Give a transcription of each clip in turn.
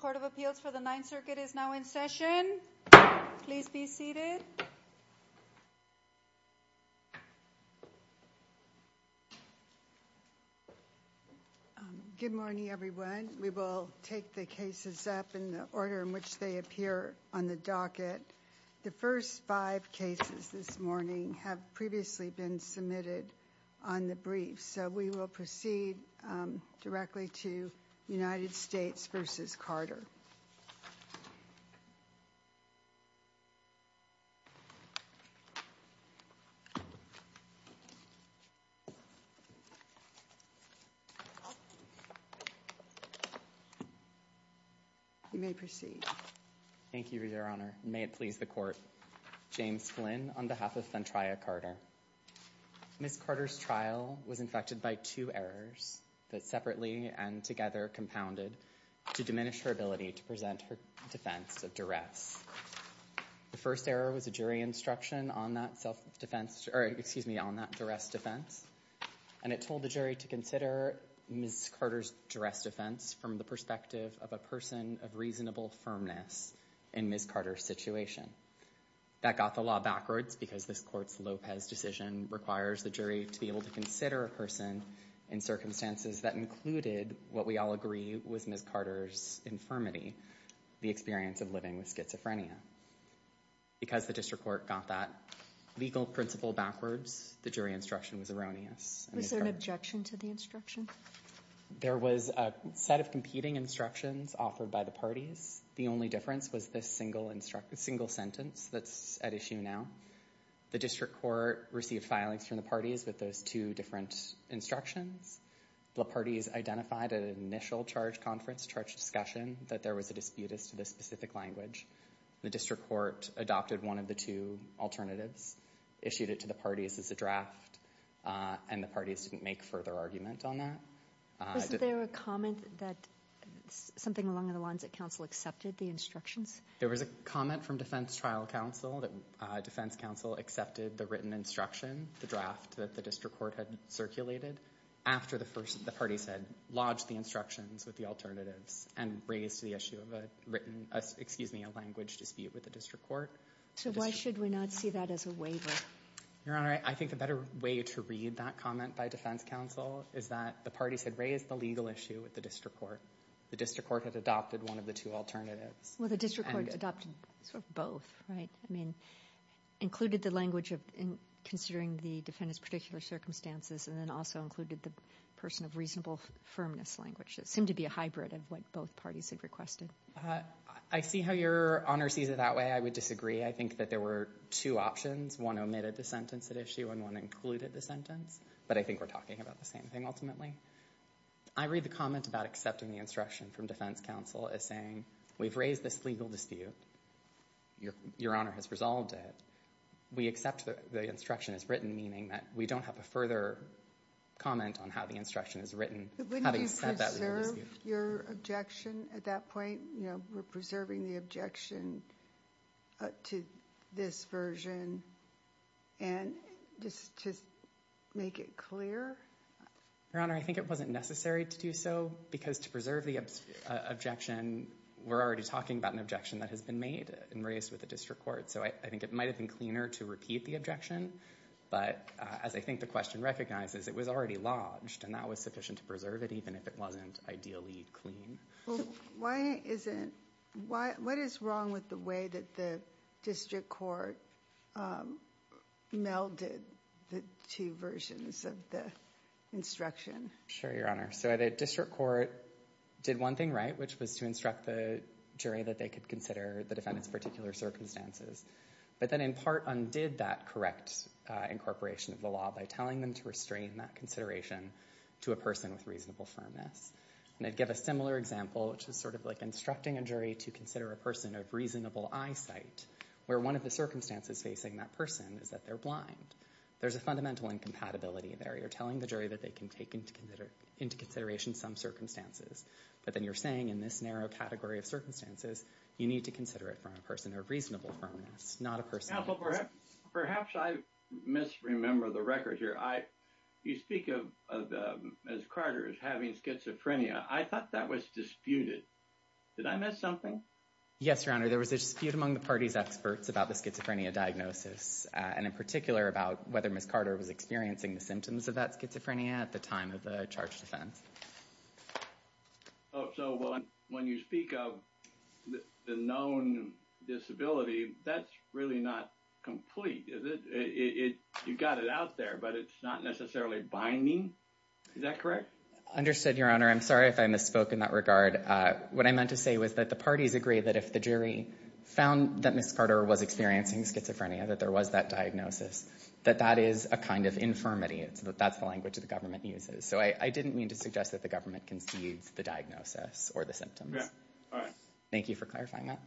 Court of Appeals for the Ninth Circuit is now in session. Please be seated. Good morning, everyone. We will take the cases up in the order in which they appear on the docket. The first five cases this morning have previously been submitted on the brief, so we will proceed directly to United States v. Carter. You may proceed. Thank you, Your Honor. May it please the Court. James Flynn on behalf of the United States Court of Appeals for the Ninth Circuit, I am pleased to present the case of Ms. Carter. Ms. Carter was convicted by two errors that separately and together compounded to diminish her ability to present her defense of duress. The first error was a jury instruction on that self-defense, excuse me, on that duress defense, and it told the jury to consider Ms. Carter's duress defense from the perspective of a person of reasonable in circumstances that included what we all agree was Ms. Carter's infirmity, the experience of living with schizophrenia. Because the district court got that legal principle backwards, the jury instruction was erroneous. Was there an objection to the instruction? There was a set of competing instructions offered by the parties. The only difference was this single sentence that's at issue now. The district court received filings from the parties with those two different instructions. The parties identified an initial charge conference, charge discussion, that there was a dispute as to the specific language. The district court adopted one of the two alternatives, issued it to the parties as a draft, and the parties didn't make further argument on that. Wasn't there a comment that something along the lines that counsel accepted the instructions? There was a comment from defense trial counsel that defense accepted the written instruction, the draft that the district court had circulated after the party said lodge the instructions with the alternatives and raised the issue of a written, excuse me, a language dispute with the district court. So why should we not see that as a waiver? Your Honor, I think the better way to read that comment by defense counsel is that the party said raise the legal issue with the district court. The district court had adopted one of the two alternatives. Well, the district court adopted sort of both, right? I mean, included the language of considering the defendant's particular circumstances and then also included the person of reasonable firmness language. It seemed to be a hybrid of what both parties had requested. I see how Your Honor sees it that way. I would disagree. I think that there were two options. One omitted the sentence at issue and one included the sentence, but I think we're talking about the same thing ultimately. I read the comment about accepting the instruction from defense counsel as saying we've raised this legal dispute. Your Honor has resolved it. We accept that the instruction is written, meaning that we don't have a further comment on how the instruction is written. Wouldn't you preserve your objection at that point? You know, we're preserving the objection to this version and just to make it clear? Your Honor, I think it wasn't necessary to do so because to preserve the objection, we're already talking about an objection that has been made and raised with the district court. So I think it might have been cleaner to repeat the objection, but as I think the question recognizes, it was already lodged and that was sufficient to preserve it, even if it wasn't ideally clean. Well, what is wrong with the way that the district court melded the two versions of the instruction? Sure, Your Honor. So the district court did one thing right, which was to instruct the jury that they could consider the defendant's particular circumstances, but then in part undid that correct incorporation of the law by telling them to restrain that consideration to a person with reasonable firmness. And I'd give a similar example, which is sort of like instructing a jury to consider a person of reasonable eyesight, where one of the circumstances facing that person is that they're blind. There's a fundamental incompatibility there. You're telling the jury that they can take into consideration some circumstances, but then you're saying in this narrow category of circumstances, you need to consider it from a person of reasonable firmness, not a person. Perhaps I misremember the record here. You speak of Ms. Carter as having schizophrenia. I thought that was disputed. Did I miss something? Yes, Your Honor. There was a dispute among the party's experts about the schizophrenia diagnosis and in particular about whether Ms. Carter was experiencing the symptoms of that schizophrenia at the time of the charge defense. Oh, so when you speak of the known disability, that's really not complete, is it? You got it out there, but it's not necessarily binding. Is that correct? Understood, Your Honor. I'm sorry if I misspoke in that regard. What I meant to say was that the parties agree that if the jury found that Ms. Carter was experiencing schizophrenia, that there was that diagnosis, that that is a kind of infirmity. That's the language the government uses. So I didn't mean to suggest that the government concedes the diagnosis or the symptoms. Thank you for clarifying that.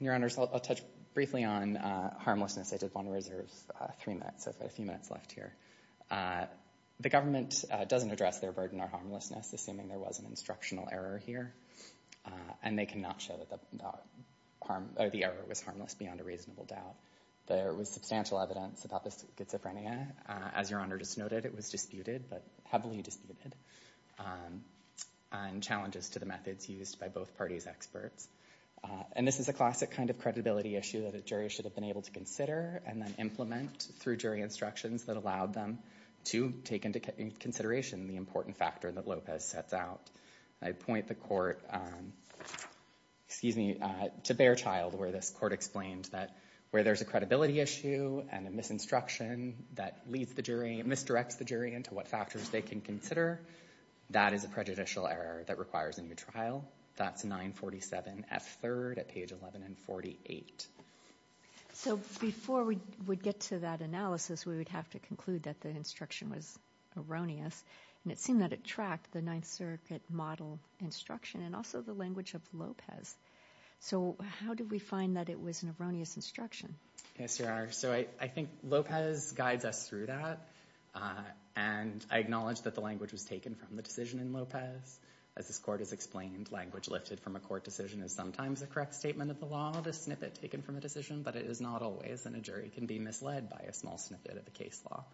Your Honor, I'll touch briefly on harmlessness. I did want to reserve three minutes. I've got a few minutes left here. The government doesn't address their burden or harmlessness, assuming there was an instructional error here. And they cannot show that the error was harmless beyond a reasonable doubt. There was substantial evidence about the schizophrenia. As Your Honor just noted, it was disputed, but heavily disputed, and challenges to the methods used by both parties' experts. And this is a classic kind of credibility issue that a jury should have been able to consider and then implement through jury instructions that allowed them to take into consideration the important factor that Lopez sets out. I point the court to Behrchild, where this court explained that where there's a credibility issue and a misinstruction that misdirects the jury into what factors they can consider, that is a prejudicial error that requires a new trial. That's 947F3 at page 11 and 48. So before we would get to that analysis, we would have to conclude that the instruction was erroneous. And it seemed that it tracked the Ninth Circuit model instruction and also the language of Lopez. So how did we find that it was an erroneous instruction? Yes, Your Honor. So I think Lopez guides us through that. And I acknowledge that the language was taken from the decision in Lopez. As this court has explained, language lifted from a court decision is sometimes a correct statement of the law, the snippet taken from a decision. But it is not always, and a jury can be misled by a small snippet of the case law.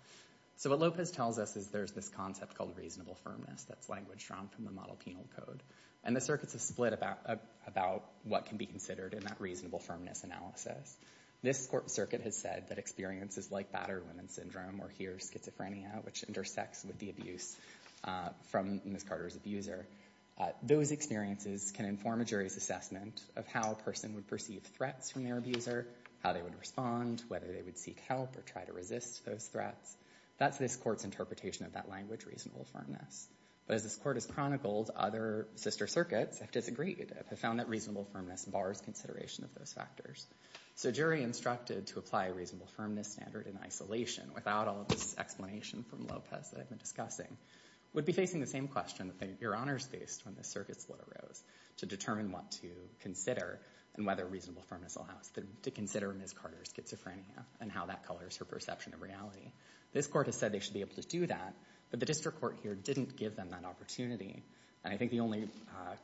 So what Lopez tells us is there's this concept called reasonable firmness that's language drawn from the model penal code. And the circuits have split about what can be considered in that reasonable firmness analysis. This court circuit has said that experiences like battered women syndrome, or here schizophrenia, which intersects with the abuse from Ms. Carter's abuser, those experiences can inform a jury's how a person would perceive threats from their abuser, how they would respond, whether they would seek help or try to resist those threats. That's this court's interpretation of that language, reasonable firmness. But as this court has chronicled, other sister circuits have disagreed, have found that reasonable firmness bars consideration of those factors. So a jury instructed to apply a reasonable firmness standard in isolation, without all of this explanation from Lopez that I've been discussing, would be facing the same question that Your Honor is faced when the circuit split arose, to determine what to consider and whether reasonable firmness allows them to consider Ms. Carter's schizophrenia and how that colors her perception of reality. This court has said they should be able to do that, but the district court here didn't give them that opportunity. And I think the only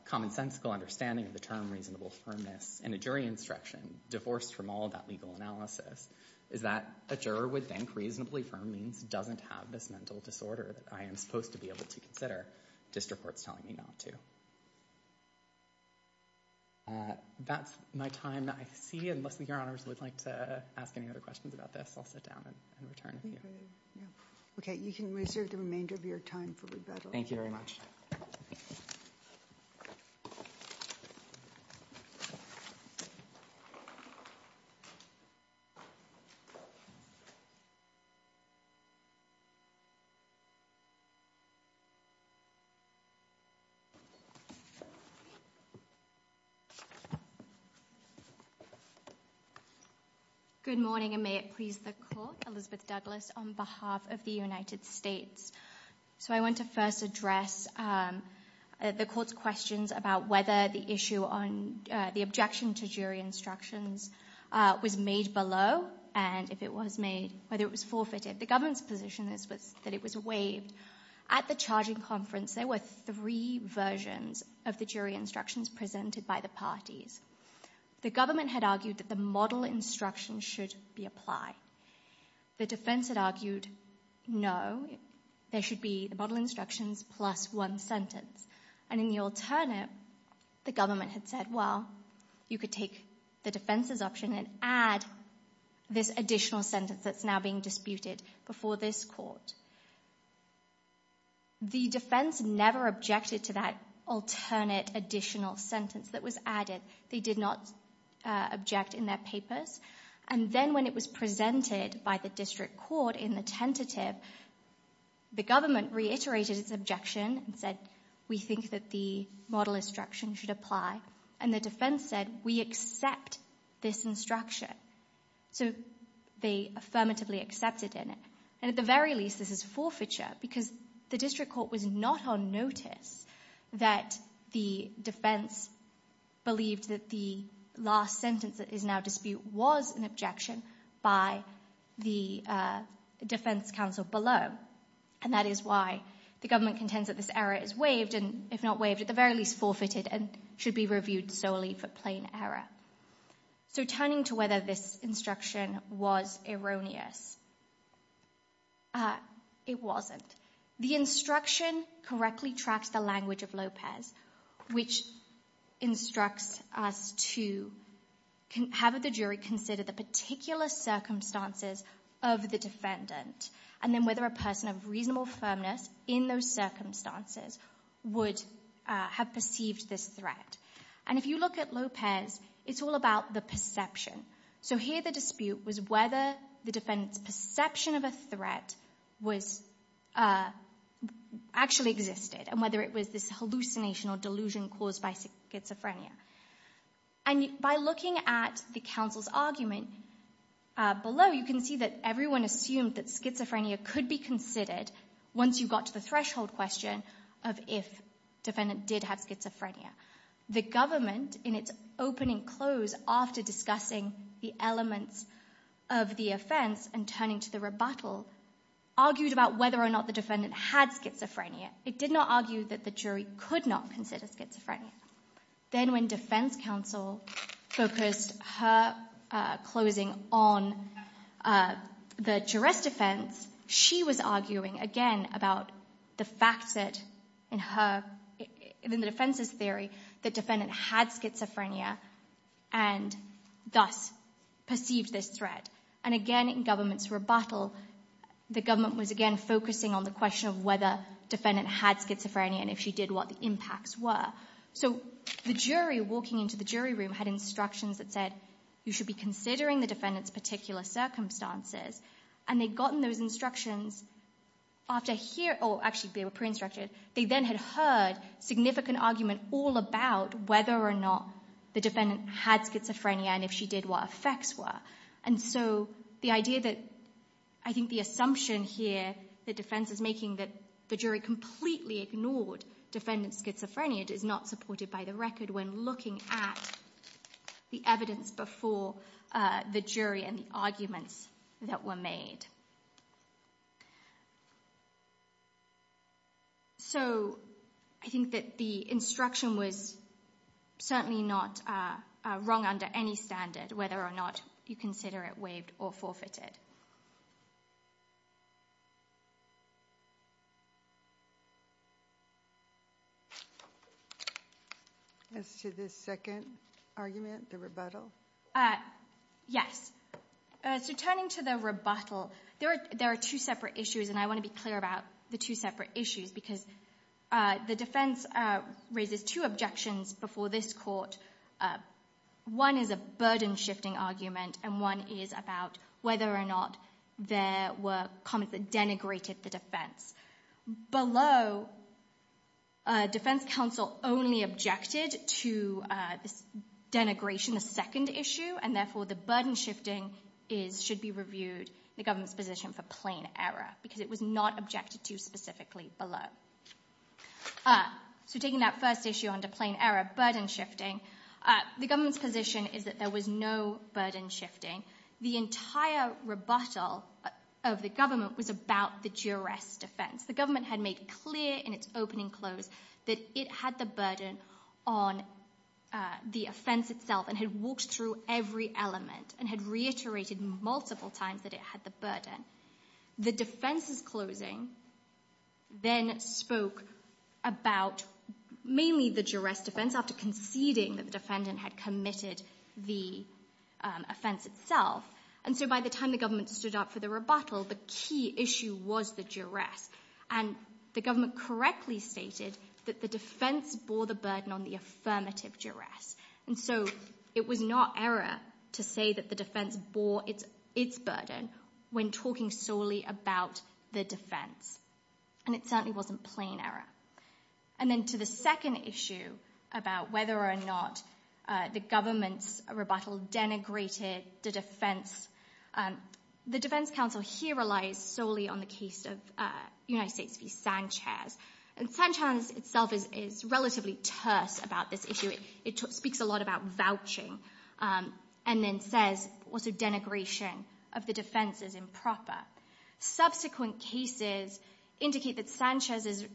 commonsensical understanding of the term reasonable firmness in a jury instruction, divorced from all that legal analysis, is that a juror would think reasonably firm means doesn't have this mental disorder that I am supposed to be able to consider. District court's telling me not to. That's my time. I see unless Your Honors would like to ask any other questions about this, I'll sit down and return. Okay, you can reserve the remainder of your time for rebuttal. Thank you. Good morning and may it please the court, Elizabeth Douglas on behalf of the United States. So I want to first address the court's questions about whether the issue on the objection to jury instructions was made below and if it was made, whether it was forfeited. The government's that it was waived. At the charging conference, there were three versions of the jury instructions presented by the parties. The government had argued that the model instruction should be applied. The defense had argued, no, there should be the model instructions plus one sentence. And in the alternate, the government had said, well, you could take the defense's option and add this additional sentence that's now being disputed before this court. The defense never objected to that alternate additional sentence that was added. They did not object in their papers. And then when it was presented by the district court in the tentative, the government reiterated its objection and said, we think that the model instruction should apply. And the defense said, we accept this instruction. So they affirmatively accepted it. And at the very least, this is forfeiture because the district court was not on notice that the defense believed that the last sentence that is now dispute was an objection by the defense counsel below. And that is why the government contends that this error is waived and if not waived, at the very least forfeited and should be reviewed solely for plain error. So turning to whether this instruction was erroneous, it wasn't. The instruction correctly tracks the language of Lopez, which instructs us to have the jury consider the particular circumstances of the defendant and then whether a person of reasonable firmness in those circumstances would have perceived this threat. And if you look at Lopez, it's all about the perception. So here the dispute was whether the defendant's perception of a threat actually existed and whether it was this hallucination or delusion caused by schizophrenia. And by looking at the counsel's argument below, you can see that everyone assumed that schizophrenia could be considered once you got to the threshold question of if defendant did have schizophrenia. The government, in its opening close after discussing the elements of the offense and turning to the rebuttal, argued about whether or not the defendant had schizophrenia. It did not argue that the jury could not consider schizophrenia. Then when defense counsel focused her closing on the jurist defense, she was arguing again about the fact set in the defense's theory that defendant had schizophrenia and thus perceived this threat. And again in government's rebuttal, the government was again focusing on the question of whether defendant had schizophrenia and if she did, what the impacts were. So the jury walking into the jury room had instructions that said, you should be considering the defendant's particular circumstances. And they'd gotten those instructions after hearing, or actually they were pre-instructed, they then had heard significant argument all about whether or not the defendant had schizophrenia and if she did, what effects were. And so the idea that, I think the assumption here that defense is making that the jury completely ignored defendant's schizophrenia is not supported by the record when looking at the evidence before the jury and the arguments that were made. So I think that the instruction was certainly not wrong under any standard, whether or not you consider it waived or forfeited. As to the second argument, the rebuttal? Yes. So turning to the rebuttal, there are two separate issues and I want to be clear about the two separate issues because the defense raises two objections before this court. One is a burden shifting argument and one is about whether or not there were comments that denigrated the defense. Below, defense counsel only objected to this denigration, the second issue, and therefore the burden shifting should be reviewed in the government's position for plain error because it was not objected to specifically below. So taking that first issue under plain error, burden shifting, the government's position is that there was no burden shifting. The entire rebuttal of the government was about the jurist's defense. The government had made clear in its opening close that it had the burden on the offense itself and had walked through every element and had reiterated multiple times that it had the burden. The defense's closing then spoke about mainly the jurist's defense after conceding that the defendant had committed the offense itself and so by the time the government stood up for the rebuttal, the key issue was the jurist and the government correctly stated that the defense bore the burden on the affirmative jurist and so it was not error to say that the defense bore its burden when talking solely about the defense and it certainly wasn't plain error. And then to the second issue about whether or not the government's rebuttal denigrated the defense, the defense counsel here relies solely on the case of United States v. Sanchez and Sanchez itself is relatively terse about this issue. It speaks a lot about vouching and then says also denigration of the defense is proper. Subsequent cases indicate that Sanchez's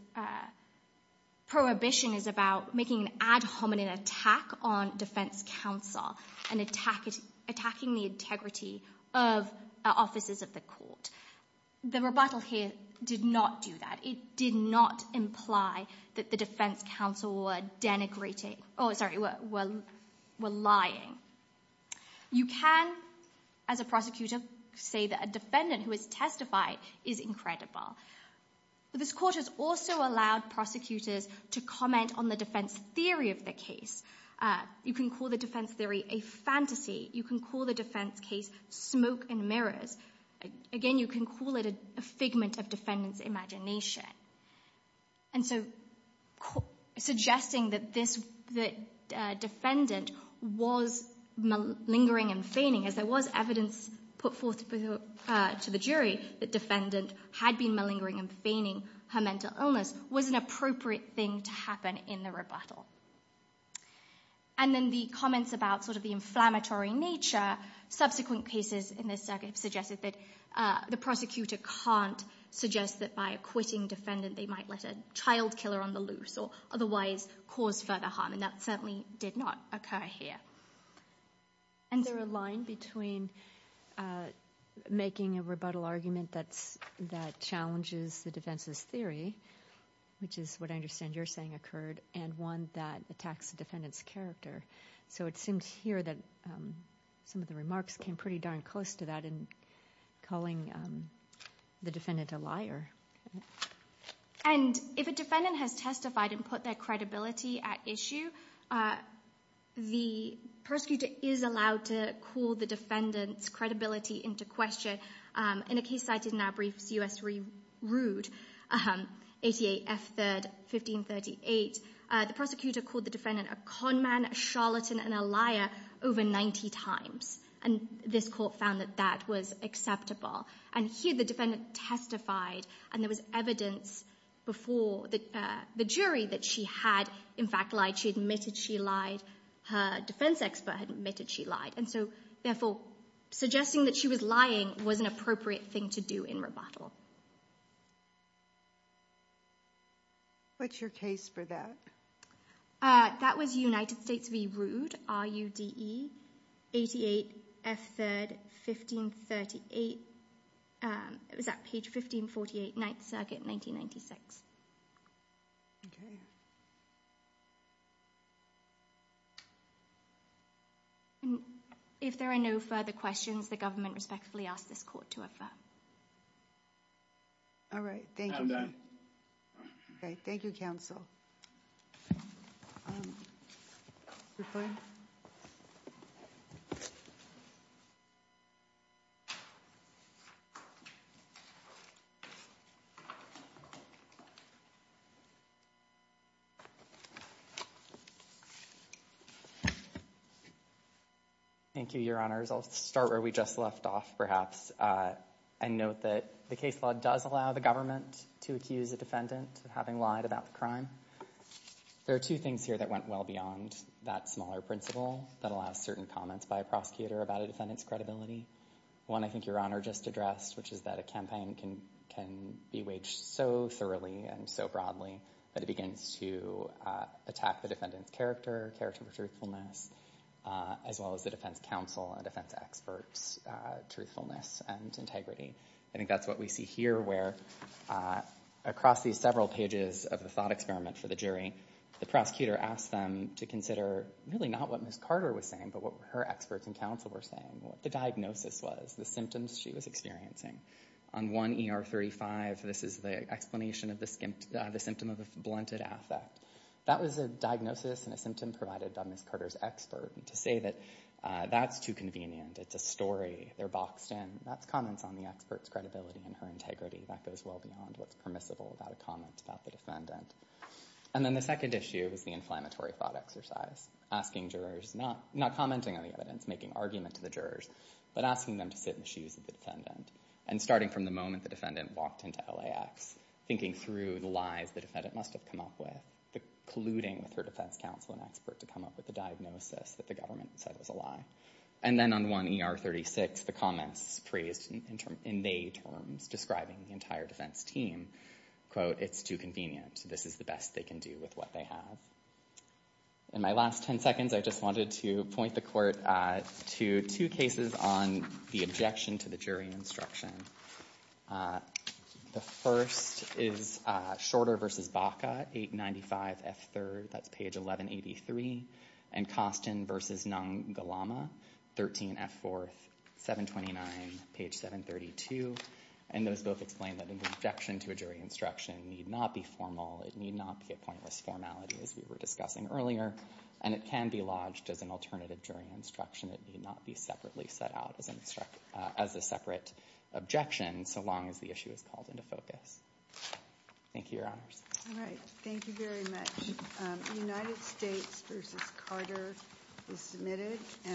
prohibition is about making an ad hominem attack on defense counsel and attacking the integrity of officers of the court. The rebuttal here did not do that. It did not imply that the defense counsel were lying. You can, as a prosecutor, say that a defendant who is testified is incredible. This court has also allowed prosecutors to comment on the defense theory of the case. You can call the defense theory a fantasy. You can call the defense case smoke and mirrors. Again, you can call it a figment of defendant's imagination and so suggesting that this defendant was lingering and feigning as there was evidence put forth to the jury that defendant had been malingering and feigning her mental illness was an appropriate thing to happen in the rebuttal. And then the comments about sort of the inflammatory nature, subsequent cases in this circuit have suggested that the prosecutor can't suggest that by acquitting defendant they might let a child killer on the loose or otherwise cause further harm. And that certainly did not occur here. And there are a line between making a rebuttal argument that challenges the defense's theory, which is what I understand you're saying occurred, and one that attacks the defendant's character. So it seems here that some of the remarks came pretty darn close to that in calling the defendant a liar. And if a defendant has testified and put their credibility at issue, the prosecutor is allowed to call the defendant's credibility into question. In a case cited in our brief, C.S. Rood, 88 F. 3rd, 1538, the prosecutor called the defendant a conman, a charlatan, and a liar over 90 times. And this court found that that was acceptable. And here the defendant testified, and there was evidence before the jury that she had, in fact, lied. She admitted she lied. Her defense expert admitted she lied. And so, therefore, suggesting that she was lying was an appropriate thing to do in rebuttal. What's your case for that? That was United States v. Rood, R-U-D-E, 88 F. 3rd, 1538. It was at page 1548, Ninth Circuit, 1996. Okay. If there are no further questions, the government respectfully asks this court to refer. All right. Thank you. I'm done. Okay. Thank you, counsel. Thank you, Your Honors. I'll start where we just left off, perhaps. And note that the case law does allow the government to accuse a defendant of having lied about the crime. There are two things here that went well beyond that smaller principle that allows certain comments by a prosecutor about a defendant's credibility. One, I think Your Honor just addressed, which is that a campaign can be waged so thoroughly and so broadly that it begins to attack the defendant's character, character of truthfulness, as well as the integrity. I think that's what we see here, where across these several pages of the thought experiment for the jury, the prosecutor asked them to consider really not what Ms. Carter was saying, but what her experts and counsel were saying, what the diagnosis was, the symptoms she was experiencing. On 1 ER 35, this is the explanation of the symptom of a blunted affect. That was a diagnosis and a symptom provided by Ms. Carter's expert. To say that that's too convenient, it's a story, they're boxed in, that's comments on the expert's credibility and her integrity. That goes well beyond what's permissible about a comment about the defendant. And then the second issue is the inflammatory thought exercise, asking jurors, not commenting on the evidence, making argument to the jurors, but asking them to sit in the shoes of the defendant. And starting from the moment the defendant walked into LAX, thinking through the lies the defendant must have come up with, colluding with her defense counsel and expert to come up with the diagnosis that the government said was a lie. And then on 1 ER 36, the comments praised in their terms, describing the entire defense team, quote, it's too convenient. This is the best they can do with what they have. In my last 10 seconds, I just wanted to point the court to two cases on the objection to the jury instruction. The first is Shorter v. Baca, 895 F3rd, that's page 1183, and Costin v. Ngallama, 13 F4th, 729, page 732. And those both explain that an objection to a jury instruction need not be formal. It need not be a pointless formality, as we were discussing earlier. And it can be lodged as an alternative jury instruction. It need not be separately set out as a separate objection, so long as the issue is called into focus. Thank you, Your Honors. All right. Thank you very much. United States v. Carter is submitted.